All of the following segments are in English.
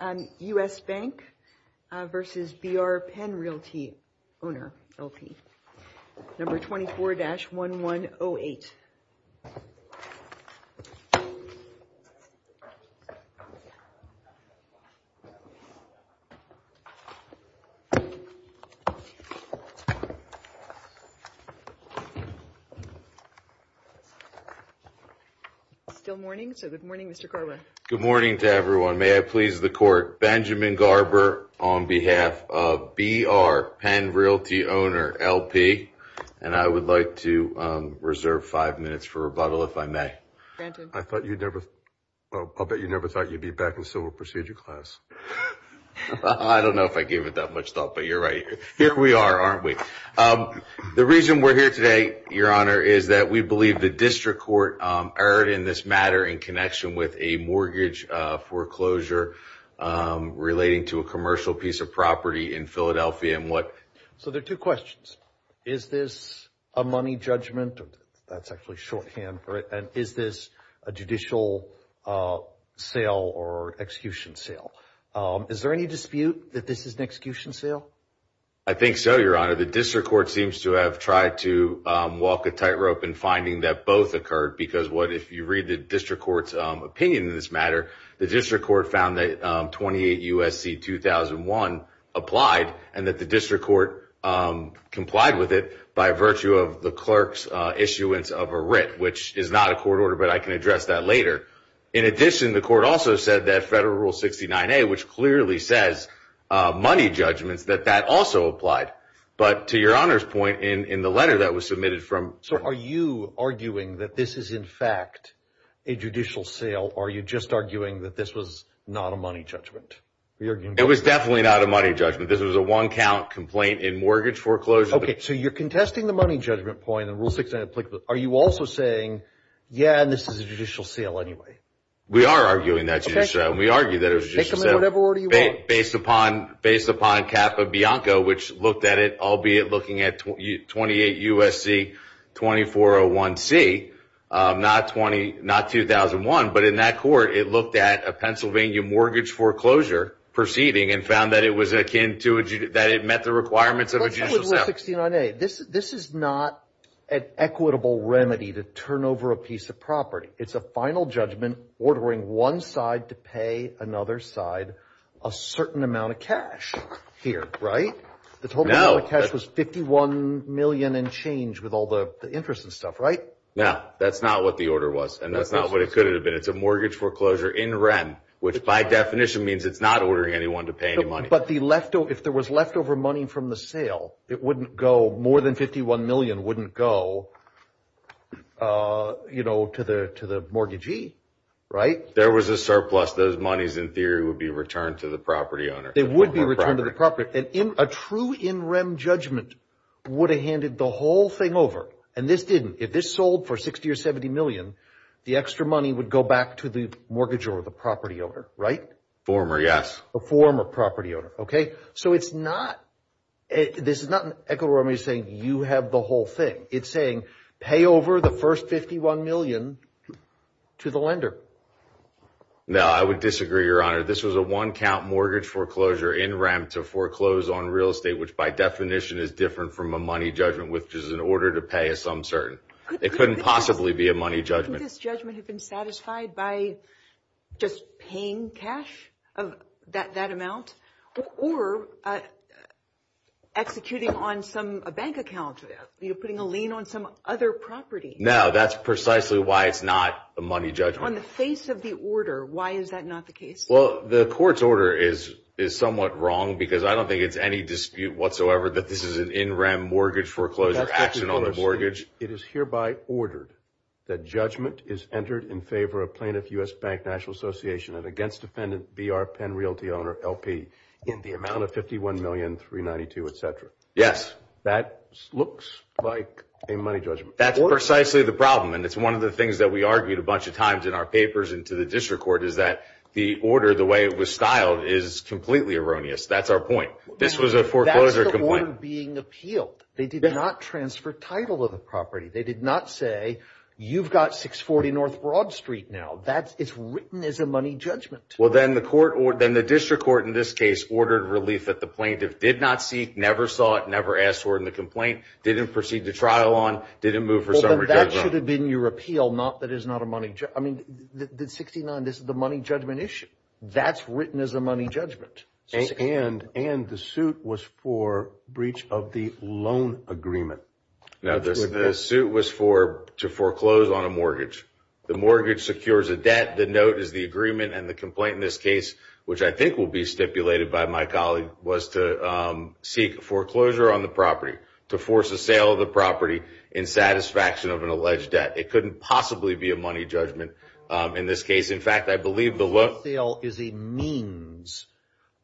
No. 24-1108 Still morning, so good morning, Mr. Karla. Good morning to everyone. May I please the court, Benjamin Garber on behalf of BR Penn Realty Owner LP, and I would like to reserve five minutes for rebuttal if I may. I thought you'd never, I'll bet you never thought you'd be back in civil procedure class. I don't know if I gave it that much thought, but you're right. Here we are, aren't we? The reason we're here today, your honor, is that we believe the district court erred in this matter in connection with a mortgage foreclosure relating to a commercial piece of property in Philadelphia, and what... So there are two questions. Is this a money judgment, that's actually shorthand for it, and is this a judicial sale or execution sale? Is there any dispute that this is an execution sale? I think so, your honor. The district court seems to have tried to walk a tightrope in finding that both occurred, because what, if you read the district court's opinion in this matter, the district court found that 28 U.S.C. 2001 applied, and that the district court complied with it by virtue of the clerk's issuance of a writ, which is not a court order, but I can address that later. In addition, the court also said that Federal Rule 69A, which clearly says money judgments, that that also applied. But to your honor's point, in the letter that was submitted from... So are you arguing that this is in fact a judicial sale, or are you just arguing that this was not a money judgment? It was definitely not a money judgment. This was a one count complaint in mortgage foreclosure. Okay, so you're contesting the money judgment point in Rule 69A. Are you also saying, yeah, this is a judicial sale anyway? We are arguing that it's a judicial sale. We argue that it's a judicial sale based upon Kappa Bianco, which looked at it, albeit looking at 28 U.S.C. 2401C, not 2001, but in that court, it looked at a Pennsylvania mortgage foreclosure proceeding, and found that it was akin to, that it met the requirements of a judicial sale. This is not an equitable remedy to turn over a piece of property. It's a final judgment ordering one side to pay another side a certain amount of cash here, right? No. The amount of cash was 51 million and change with all the interest and stuff, right? No, that's not what the order was, and that's not what it could have been. It's a mortgage foreclosure in rem, which by definition means it's not ordering anyone to pay any money. But if there was leftover money from the sale, it wouldn't go, more than 51 million wouldn't go to the mortgagee, right? There was a surplus. Those monies, in theory, would be returned to the property owner. It would be returned to the property. A true in rem judgment would have handed the whole thing over, and this didn't. If this sold for 60 or 70 million, the extra money would go back to the mortgage or the property owner, right? Former, yes. A former property owner, okay? So it's not, this is not an equitable remedy saying you have the whole thing. It's saying pay over the first 51 million to the lender. No, I would disagree, your honor. This was a one count mortgage foreclosure in rem to foreclose on real estate, which by definition is different from a money judgment, which is an order to pay a sum certain. It couldn't possibly be a money judgment. Couldn't this judgment have been satisfied by just paying cash, that amount? Or executing on a bank account, putting a lien on some other property? No, that's precisely why it's not a money judgment. On the face of the order, why is that not the case? Well, the court's order is somewhat wrong, because I don't think it's any dispute whatsoever that this is an in rem mortgage foreclosure action on the mortgage. It is hereby ordered that judgment is entered in favor of plaintiff U.S. Bank National Association and against defendant B.R. Penn Realty Owner, L.P., in the amount of 51,392, et cetera. Yes. That looks like a money judgment. That's precisely the problem, and it's one of the things that we argued a bunch of times in our papers and to the district court, is that the order, the way it was styled, is completely erroneous. That's our point. This was a foreclosure complaint. That's the order being appealed. They did not transfer title of the property. They did not say, you've got 640 North Broad Street now. It's written as a money judgment. Well, then the district court, in this case, ordered relief that the plaintiff did not seek, never sought, never asked for in the complaint, didn't proceed to trial on, didn't move for summary judgment. That should have been your appeal, not that it's not a money judgment. I mean, the 69, this is the money judgment issue. That's written as a money judgment. And the suit was for breach of the loan agreement. The suit was to foreclose on a mortgage. The mortgage secures a debt, the note is the agreement, and the complaint in this case, which I think will be stipulated by my colleague, was to seek foreclosure on the property, to force a sale of the property in satisfaction of an alleged debt. It couldn't possibly be a money judgment in this case. In fact, I believe the loan sale is a means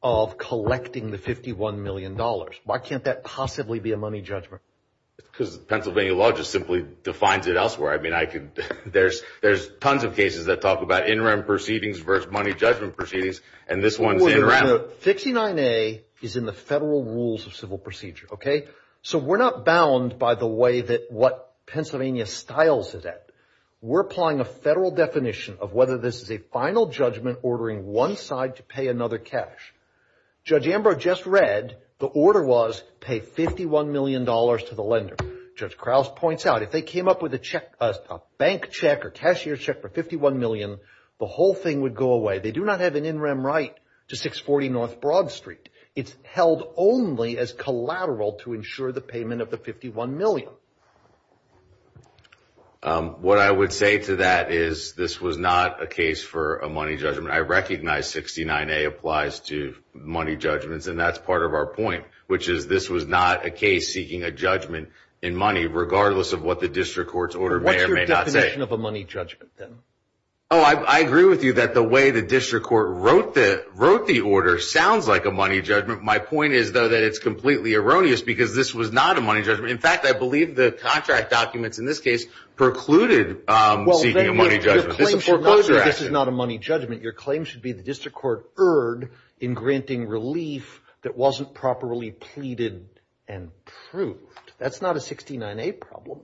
of collecting the $51 million. Why can't that possibly be a money judgment? Because Pennsylvania law just simply defines it elsewhere. I mean, I could, there's tons of cases that talk about interim proceedings versus money judgment proceedings, and this one's interim. 69A is in the federal rules of civil procedure, okay? So we're not bound by the way that what Pennsylvania styles the debt. We're applying a federal definition of whether this is a final judgment ordering one side to pay another cash. Judge Ambrose just read the order was pay $51 million to the lender. Judge Krause points out, if they came up with a bank check or cashier check for 51 million, the whole thing would go away. They do not have an in-rem right to 640 North Broad Street. It's held only as collateral to ensure the payment of the 51 million. What I would say to that is this was not a case for a money judgment. I recognize 69A applies to money judgments, and that's part of our point, which is this was not a case seeking a judgment in money, regardless of what the district court's order may or may not say. What's your definition of a money judgment, then? Oh, I agree with you that the way the district court wrote the order sounds like a money judgment. My point is, though, that it's completely erroneous because this was not a money judgment. In fact, I believe the contract documents in this case precluded seeking a money judgment. This is foreclosure action. Well, then, your claim should not say this is not a money judgment. Your claim should be the district court erred in granting relief that wasn't properly pleaded and proved. That's not a 69A problem.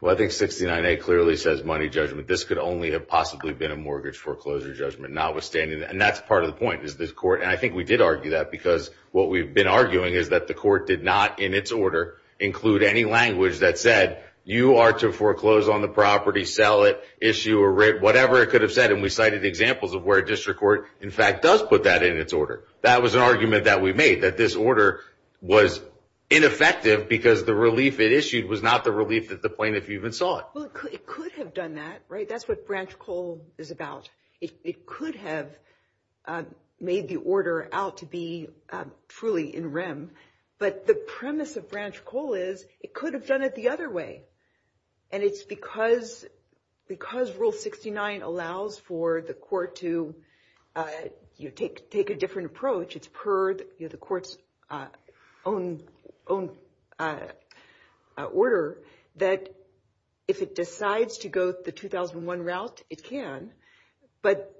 Well, I think 69A clearly says money judgment. This could only have possibly been a mortgage foreclosure judgment, notwithstanding, and that's part of the point, is this court, and I think we did argue that because what we've been arguing is that the court did not, in its order, include any language that said you are to foreclose on the property, sell it, issue a rate, whatever it could have said, and we cited examples of where a district court, in fact, does put that in its order. That was an argument that we made, that this order was ineffective because the relief it was not the relief at the point that you even saw it. Well, it could have done that, right? That's what Branch Coal is about. It could have made the order out to be truly in rem, but the premise of Branch Coal is it could have done it the other way, and it's because Rule 69 allows for the court to take a different approach. It's per the court's own order that if it decides to go the 2001 route, it can, but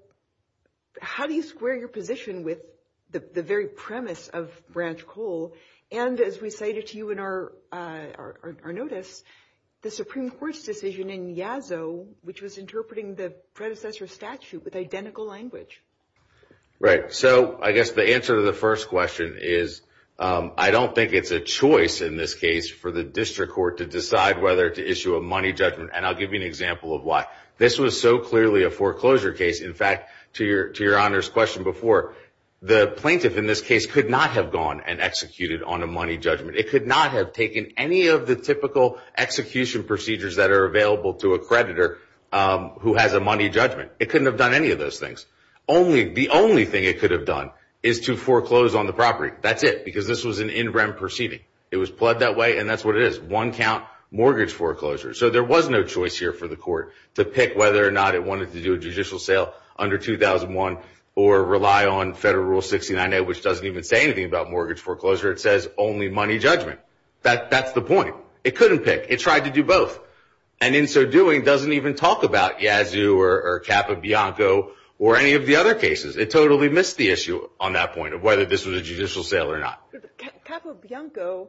how do you square your position with the very premise of Branch Coal, and as we cited to you in our notice, the Supreme Court's decision in Yazoo, which was interpreting the predecessor statute with identical language. Right, so I guess the answer to the first question is I don't think it's a choice in this case for the district court to decide whether to issue a money judgment, and I'll give you an example of why. This was so clearly a foreclosure case, in fact, to your Honor's question before, the plaintiff in this case could not have gone and executed on a money judgment. It could not have taken any of the typical execution procedures that are available to a creditor who has a money judgment. It couldn't have done any of those things. The only thing it could have done is to foreclose on the property. That's it, because this was an in rem proceeding. It was pled that way, and that's what it is, one count mortgage foreclosure. So there was no choice here for the court to pick whether or not it wanted to do a judicial sale under 2001 or rely on Federal Rule 69A, which doesn't even say anything about mortgage foreclosure. It says only money judgment. That's the point. It couldn't pick. It tried to do both, and in so doing doesn't even talk about Yazoo or Capo Bianco or any of the other cases. It totally missed the issue on that point of whether this was a judicial sale or not. Capo Bianco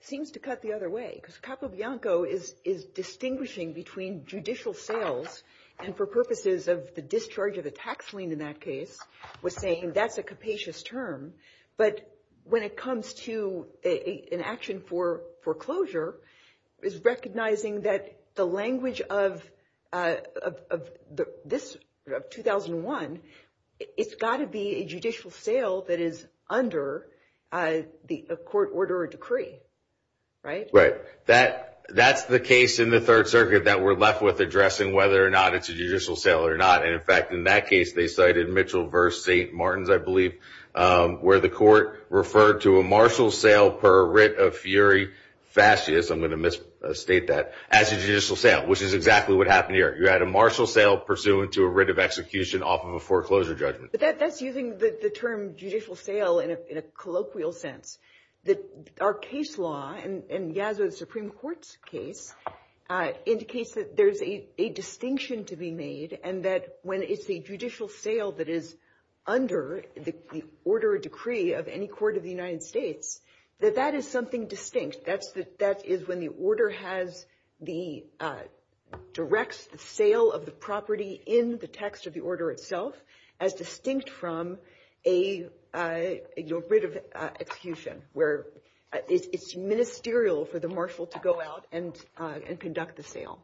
seems to cut the other way, because Capo Bianco is distinguishing between judicial sales and for purposes of the discharge of the tax lien in that case, was saying that's a capacious term. But when it comes to an action for foreclosure, it's recognizing that the language of this 2001, it's got to be a judicial sale that is under the court order or decree, right? Right. That's the case in the Third Circuit that we're left with addressing whether or not it's a judicial sale or not, and in fact, in that case, they cited Mitchell v. St. Martin's, I believe, where the court referred to a martial sale per writ of fury, fascist, I'm going to misstate that, as a judicial sale, which is exactly what happened here. You had a martial sale pursuant to a writ of execution off of a foreclosure judgment. That's using the term judicial sale in a colloquial sense. Our case law in Yazoo, the Supreme Court's case, indicates that there's a distinction to be made, and that when it's a judicial sale that is under the order or decree of any court of the United States, that that is something distinct. That is when the order directs the sale of the property in the text of the order itself, as distinct from a writ of execution, where it's ministerial for the marshal to go out and conduct the sale.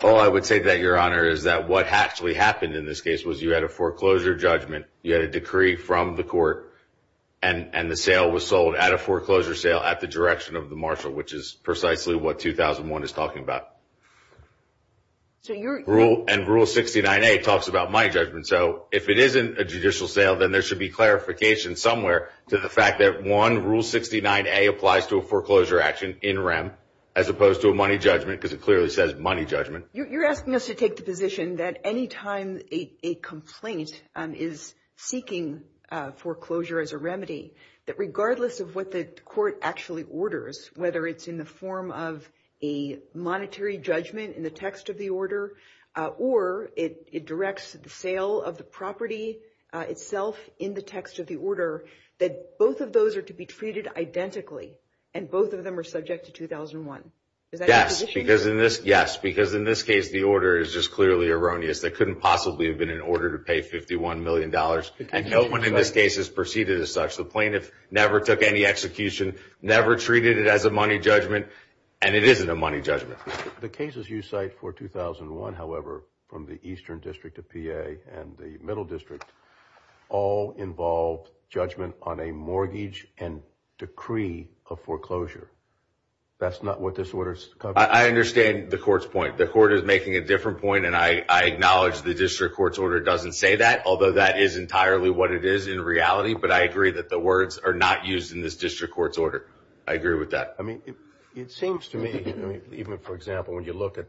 All I would say to that, Your Honor, is that what actually happened in this case was you had a foreclosure judgment, you had a decree from the court, and the sale was sold at a foreclosure sale at the direction of the marshal, which is precisely what 2001 is talking about. And Rule 69A talks about money judgment, so if it isn't a judicial sale, then there should be clarification somewhere to the fact that, one, Rule 69A applies to a foreclosure action in rem, as opposed to a money judgment, because it clearly says money judgment. You're asking us to take the position that any time a complaint is seeking foreclosure as a remedy, that regardless of what the court actually orders, whether it's in the form of a monetary judgment in the text of the order, or it directs the sale of the property itself in the text of the order, that both of those are to be treated identically, and that both of them are subject to 2001. Yes, because in this case, the order is just clearly erroneous. They couldn't possibly have been in order to pay $51 million, and no one in this case has proceeded as such. The plaintiff never took any execution, never treated it as a money judgment, and it isn't a money judgment. The cases you cite for 2001, however, from the Eastern District of PA and the Middle District, all involve judgment on a mortgage and decree of foreclosure. That's not what this order's covering. I understand the court's point. The court is making a different point, and I acknowledge the district court's order doesn't say that, although that is entirely what it is in reality, but I agree that the words are not used in this district court's order. I agree with that. I mean, it seems to me, even for example, when you look at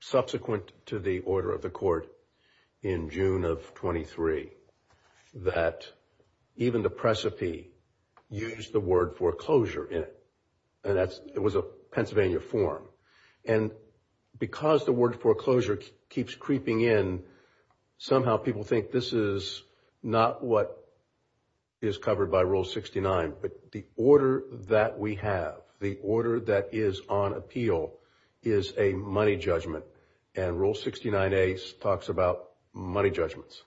subsequent to the order of court in June of 23, that even the precipice used the word foreclosure in it, and it was a Pennsylvania form, and because the word foreclosure keeps creeping in, somehow people think this is not what is covered by Rule 69, but the order that we have, the order that is on appeal is a money judgment, and Rule 69A talks about money judgments.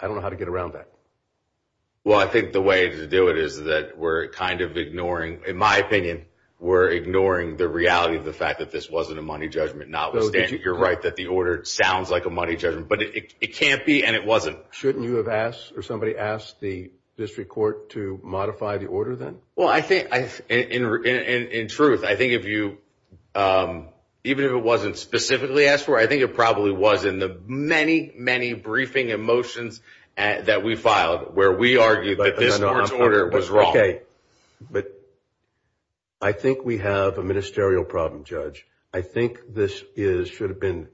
I don't know how to get around that. Well, I think the way to do it is that we're kind of ignoring, in my opinion, we're ignoring the reality of the fact that this wasn't a money judgment, notwithstanding, you're right, that the order sounds like a money judgment, but it can't be, and it wasn't. Shouldn't you have asked, or somebody asked the district court to modify the order then? Well, I think, in truth, I think if you, even if it wasn't specifically asked for, I think it probably was in the many, many briefing motions that we filed where we argued that this court's order was wrong. Okay, but I think we have a ministerial problem, Judge. I think this is, should have been,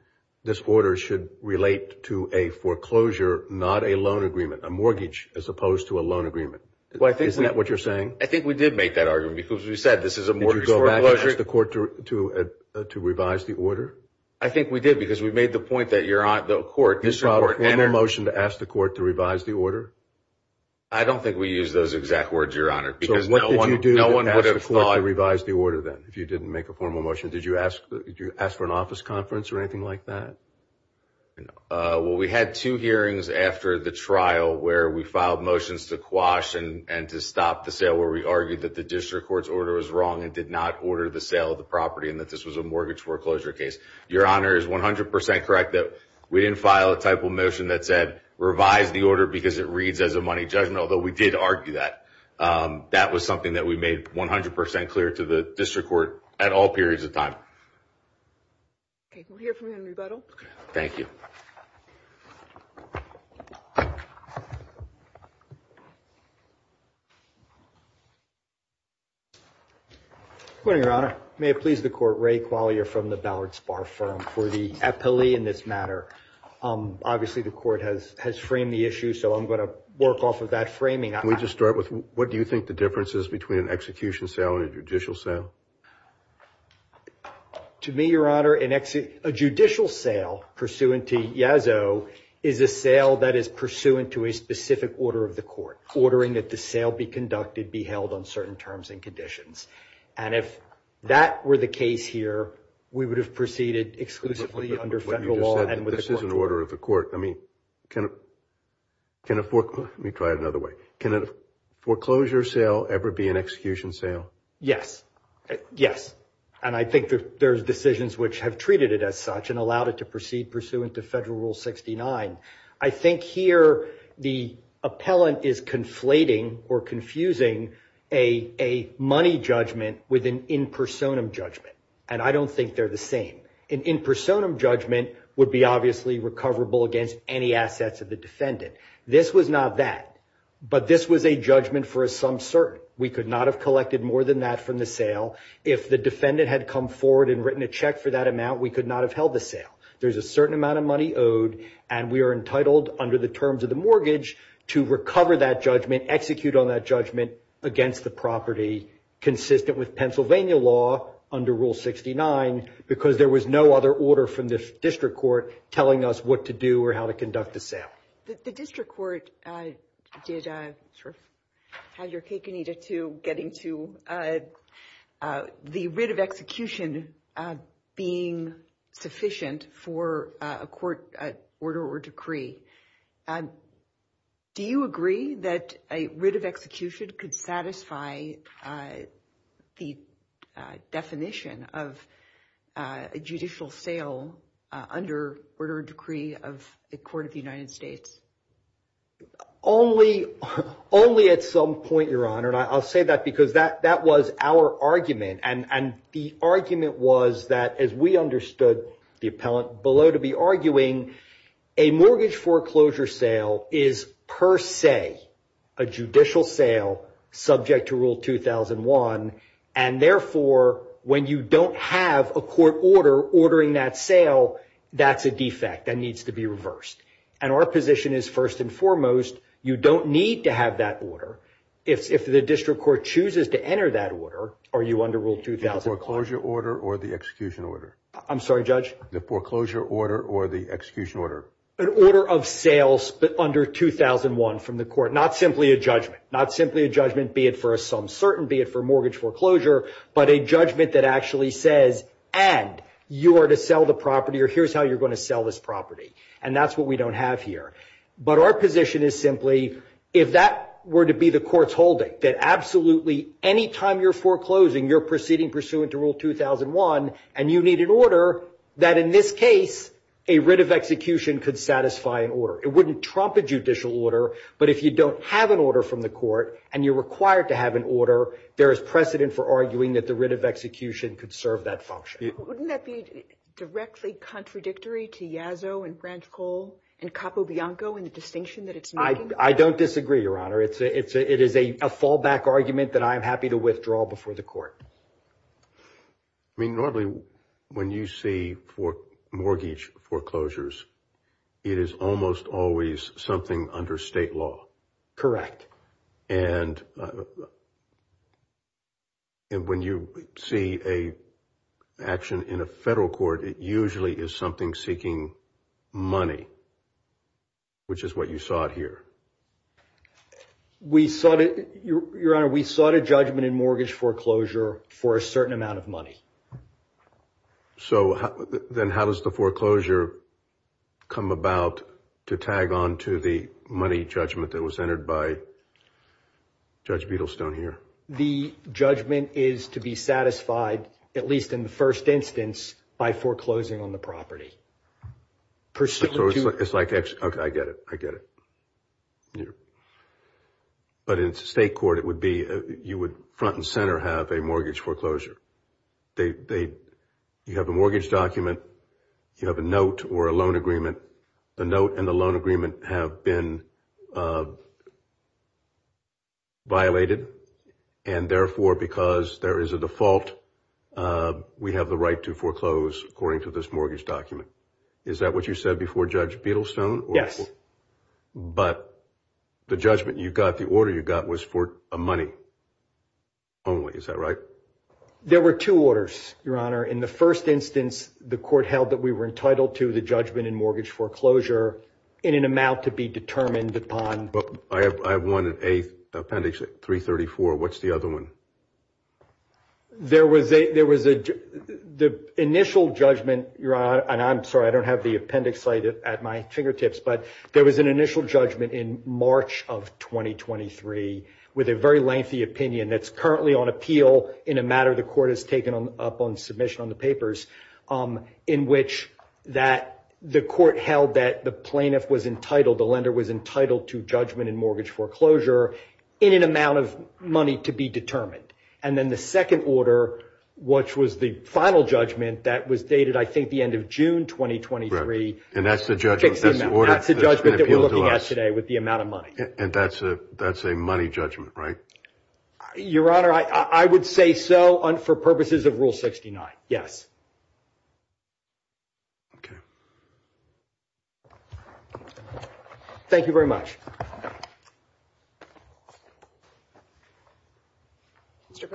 this order should relate to a foreclosure, not a loan agreement, a mortgage as opposed to a loan agreement. Isn't that what you're saying? I think we did make that argument, because we said this is a mortgage foreclosure. Did you go back and ask the court to revise the order? I think we did, because we made the point that you're on, the court, the district court entered- Did you file a formal motion to ask the court to revise the order? I don't think we used those exact words, Your Honor, because no one would have thought- So what did you do to ask the court to revise the order then, if you didn't make a formal motion? Did you ask for an office conference or anything like that? Well, we had two hearings after the trial where we filed motions to quash and to stop the sale, where we argued that the district court's order was wrong and did not order the sale of the property and that this was a mortgage foreclosure case. Your Honor is 100% correct that we didn't file a type of motion that said, revise the order because it reads as a money judgment, although we did argue that. That was something that we made 100% clear to the district court at all periods of time. Okay. We'll hear from you in rebuttal. Thank you. Good morning, Your Honor. May it please the court, Ray Quagliar from the Ballard Spar Firm for the appellee in this matter. Obviously, the court has framed the issue, so I'm going to work off of that framing. Can we just start with, what do you think the difference is between an execution sale and a judicial sale? To me, Your Honor, a judicial sale pursuant to Yazoo is a sale that is pursuant to a specific order of the court, ordering that the sale be conducted, be held on certain terms and If that were the case here, we would have proceeded exclusively under federal law and with the court's order. This is an order of the court. I mean, can a foreclosure... Let me try it another way. Can a foreclosure sale ever be an execution sale? Yes. Yes. And I think that there's decisions which have treated it as such and allowed it to proceed pursuant to Federal Rule 69. I think here the appellant is conflating or confusing a money judgment with an in personam judgment, and I don't think they're the same. An in personam judgment would be obviously recoverable against any assets of the defendant. This was not that, but this was a judgment for a sum certain. We could not have collected more than that from the sale. If the defendant had come forward and written a check for that amount, we could not have held the sale. There's a certain amount of money owed, and we are entitled under the terms of the mortgage to recover that judgment, execute on that judgment against the property, consistent with Pennsylvania law under Rule 69, because there was no other order from the district court telling us what to do or how to conduct the sale. The district court did sort of have your cake and eat it, too, getting to the writ of execution being sufficient for a court order or decree. Do you agree that a writ of execution could satisfy the definition of a judicial sale under order or decree of the Court of the United States? Only at some point, Your Honor, and I'll say that because that was our argument, and the argument was that, as we understood the appellant below to be arguing, a mortgage foreclosure sale is per se a judicial sale subject to Rule 2001, and therefore, when you don't have a court order ordering that sale, that's a defect that needs to be reversed. Our position is, first and foremost, you don't need to have that order. If the district court chooses to enter that order, are you under Rule 2000? The foreclosure order or the execution order? I'm sorry, Judge? The foreclosure order or the execution order? An order of sales under 2001 from the court, not simply a judgment, not simply a judgment, be it for a sum certain, be it for mortgage foreclosure, but a judgment that actually says, and you are to sell the property, or here's how you're going to sell this property, and that's what we don't have here. But our position is simply, if that were to be the court's holding, that absolutely, any time you're foreclosing, you're proceeding pursuant to Rule 2001, and you need an order that, in this case, a writ of execution could satisfy an order. It wouldn't trump a judicial order, but if you don't have an order from the court, and you're required to have an order, there is precedent for arguing that the writ of execution could serve that function. Wouldn't that be directly contradictory to Yazoo and Branch Coal and Capo Bianco in the distinction that it's making? I don't disagree, Your Honor. It is a fallback argument that I am happy to withdraw before the court. I mean, normally, when you see mortgage foreclosures, it is almost always something under state law. Correct. And when you see an action in a federal court, it usually is something seeking money, which is what you sought here. We sought it, Your Honor, we sought a judgment in mortgage foreclosure for a certain amount of money. So then how does the foreclosure come about to tag on to the money judgment that was entered by Judge Beadlestone here? The judgment is to be satisfied, at least in the first instance, by foreclosing on the So it's like, okay, I get it, I get it. But in state court, it would be, you would front and center have a mortgage foreclosure. You have a mortgage document, you have a note or a loan agreement. The note and the loan agreement have been violated, and therefore, because there is a default, we have the right to foreclose according to this mortgage document. Is that what you said before Judge Beadlestone? But the judgment you got, the order you got, was for money only, is that right? There were two orders, Your Honor. In the first instance, the court held that we were entitled to the judgment in mortgage foreclosure in an amount to be determined upon. I have one in Appendix 334, what's the other one? There was the initial judgment, and I'm sorry, I don't have the appendix cited at my fingertips, but there was an initial judgment in March of 2023 with a very lengthy opinion that's currently on appeal in a matter the court has taken up on submission on the papers, in which the court held that the plaintiff was entitled, the lender was entitled to judgment in mortgage foreclosure in an amount of money to be determined. And then the second order, which was the final judgment, that was dated, I think, the end of June 2023, that's the judgment that we're looking at today with the amount of money. And that's a money judgment, right? Your Honor, I would say so for purposes of Rule 69, yes. Okay. Thank you very much. A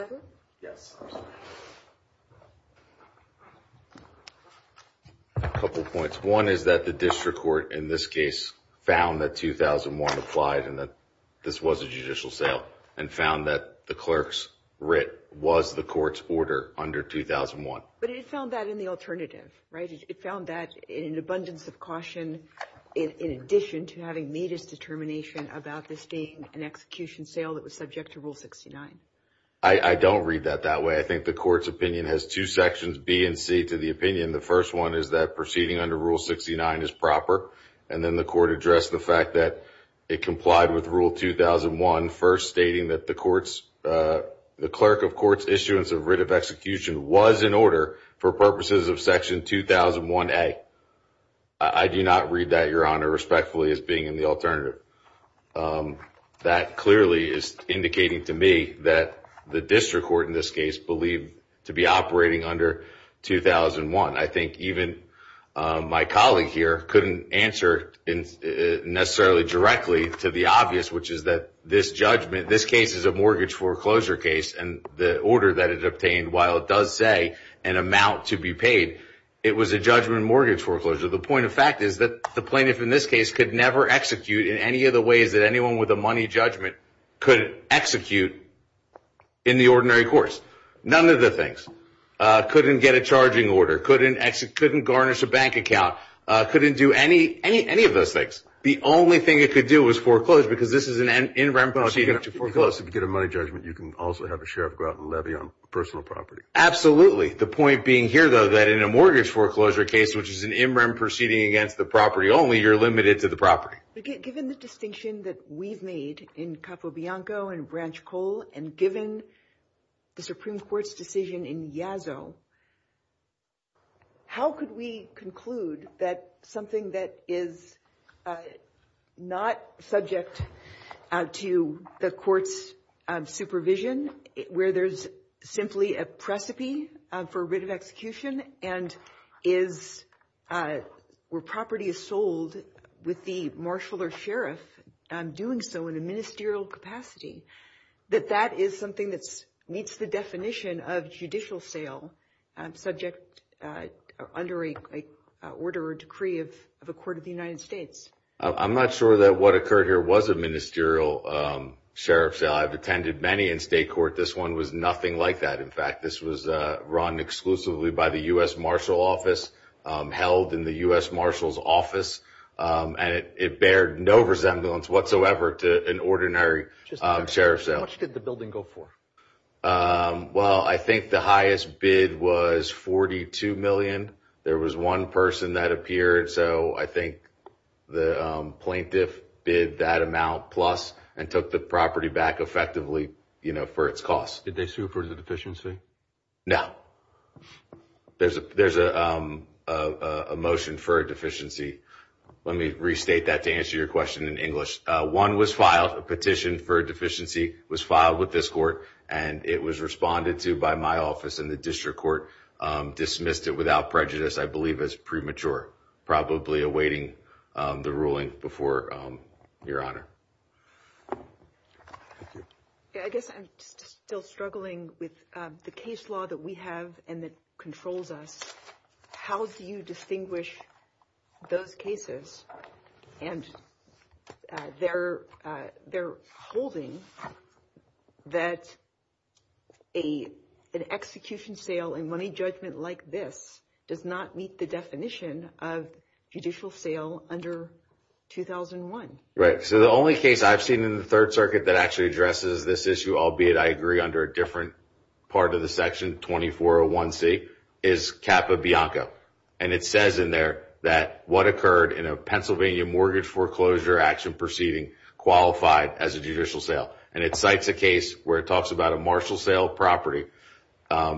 couple points. One is that the district court in this case found that 2001 applied and that this was a judicial sale. And found that the clerk's writ was the court's order under 2001. But it found that in the alternative, right? It found that in an abundance of caution in addition to having made his determination about this being an execution sale that was subject to Rule 69. I don't read that that way. I think the court's opinion has two sections, B and C, to the opinion. The first one is that proceeding under Rule 69 is proper. And then the court addressed the fact that it complied with Rule 2001, first stating that the clerk of court's issuance of writ of execution was in order for purposes of Section 2001A. I do not read that, Your Honor, respectfully as being in the alternative. That clearly is indicating to me that the district court in this case believed to be operating under 2001. I think even my colleague here couldn't answer necessarily directly to the obvious, which is that this judgment, this case is a mortgage foreclosure case. And the order that it obtained, while it does say an amount to be paid, it was a judgment mortgage foreclosure. The point of fact is that the plaintiff in this case could never execute in any of the ways that anyone with a money judgment could execute in the ordinary course. None of the things. Couldn't get a charging order, couldn't garnish a bank account, couldn't do any of those things. The only thing it could do was foreclose, because this is an in rem proceeding to foreclose. If you get a money judgment, you can also have a sheriff go out and levy on personal property. Absolutely. The point being here, though, that in a mortgage foreclosure case, which is an in rem proceeding against the property only, you're limited to the property. Given the distinction that we've made in Capo Bianco and Branch Cole, and given the Supreme Court ruling in Yazoo, how could we conclude that something that is not subject to the court's supervision, where there's simply a precipice for writ of execution, and is where property is sold with the marshal or sheriff doing so in a ministerial capacity, that that is something that meets the definition of judicial sale subject under a order or decree of a court of the United States? I'm not sure that what occurred here was a ministerial sheriff's sale. I've attended many in state court. This one was nothing like that, in fact. This was run exclusively by the U.S. Marshal Office, held in the U.S. Marshal's office, and it bared no resemblance whatsoever to an ordinary sheriff's sale. How much did the building go for? Well, I think the highest bid was $42 million. There was one person that appeared, so I think the plaintiff bid that amount plus and took the property back effectively for its cost. Did they sue for the deficiency? No. There's a motion for a deficiency. Let me restate that to answer your question in English. One was filed, a petition for a deficiency was filed with this court, and it was responded to by my office, and the district court dismissed it without prejudice, I believe as premature, probably awaiting the ruling before Your Honor. Thank you. With the case law that we have and that controls us, how do you distinguish those cases, and they're holding that an execution sale and money judgment like this does not meet the definition of judicial sale under 2001? Right. So the only case I've seen in the Third Circuit that actually addresses this issue, albeit I agree under a different part of the section, 2401C, is Capa Bianco, and it says in there that what occurred in a Pennsylvania mortgage foreclosure action proceeding qualified as a judicial sale, and it cites a case where it talks about a marshal sale property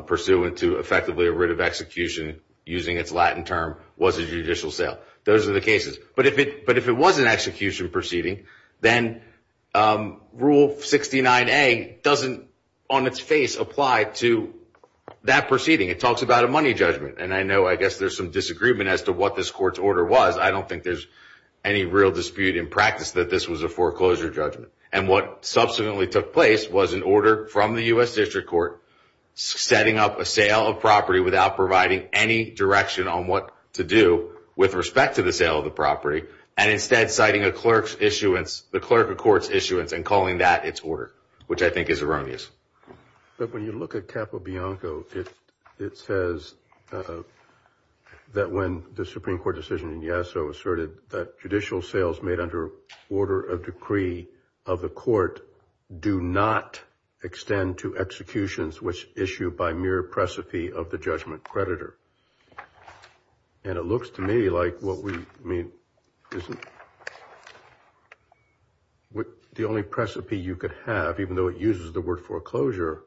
pursuant to effectively a writ of execution using its Latin term was a judicial sale. Those are the cases. But if it was an execution proceeding, then Rule 69A doesn't on its face apply to that proceeding. It talks about a money judgment, and I know I guess there's some disagreement as to what this court's order was. I don't think there's any real dispute in practice that this was a foreclosure judgment, and what subsequently took place was an order from the U.S. District Court setting up a sale of property without providing any direction on what to do with respect to the sale of property, and instead citing the clerk of court's issuance and calling that its order, which I think is erroneous. But when you look at Capa Bianco, it says that when the Supreme Court decision in Yasso asserted that judicial sales made under order of decree of the court do not extend to executions which issue by mere precipice of the judgment creditor. And it looks to me like what we, I mean, isn't the only precipice you could have, even though it uses the word foreclosure,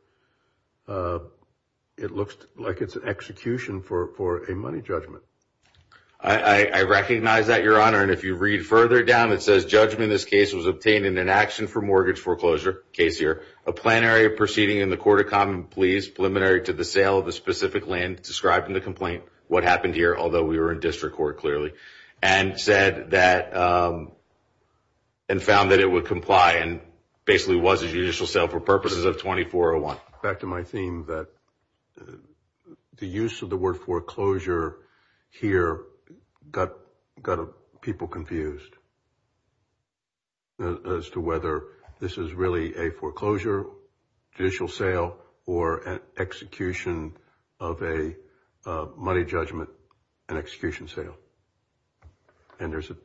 it looks like it's an execution for a money judgment. I recognize that, Your Honor, and if you read further down, it says judgment in this case was obtained in an action for mortgage foreclosure, case here, a plenary proceeding in the court of common pleas preliminary to the sale of the specific land described in the complaint, what happened here, although we were in district court clearly, and said that, and found that it would comply and basically was a judicial sale for purposes of 2401. Back to my theme that the use of the word foreclosure here got people confused as to whether this is really a foreclosure judicial sale or an execution of a money judgment, an execution sale. And there's a,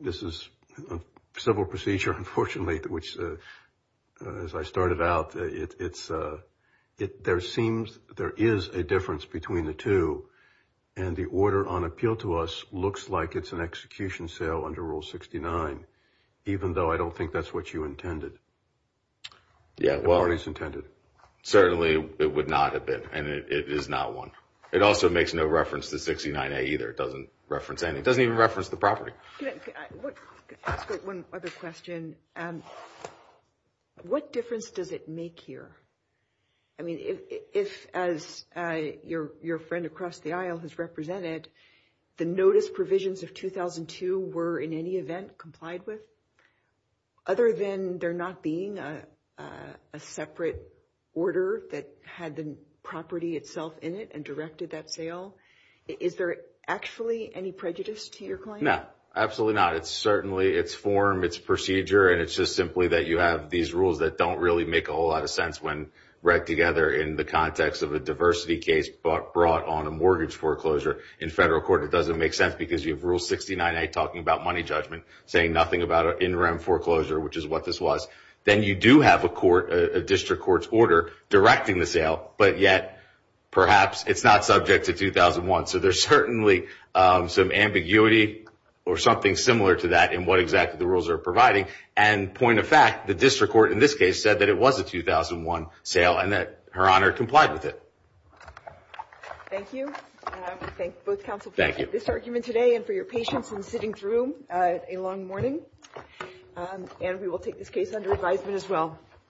this is a civil procedure, unfortunately, which, as I started out, it's, there seems, there is a difference between the two, and the order on appeal to us looks like it's an execution sale under Rule 69, even though I don't think that's what you intended. Yeah, well, certainly it would not have been, and it is not one. It also makes no reference to 69A either, it doesn't reference any, it doesn't even reference the property. Can I ask one other question? What difference does it make here? I mean, if, as your friend across the aisle has represented, the notice provisions of 2002 were in any event complied with, other than there not being a separate order that had the property itself in it and directed that sale, is there actually any prejudice to your claim? No, absolutely not. It's certainly, it's form, it's procedure, and it's just simply that you have these rules that don't really make a whole lot of sense when read together in the context of a diversity case brought on a mortgage foreclosure. In federal court, it doesn't make sense because you have Rule 69A talking about money judgment, saying nothing about an interim foreclosure, which is what this was. Then you do have a court, a district court's order directing the sale, but yet, perhaps it's not subject to 2001. So there's certainly some ambiguity or something similar to that in what exactly the rules are providing. And point of fact, the district court in this case said that it was a 2001 sale and that Her Honor complied with it. Thank you. I thank both counsel for this argument today and for your patience in sitting through a long morning. And we will take this case under advisement as well.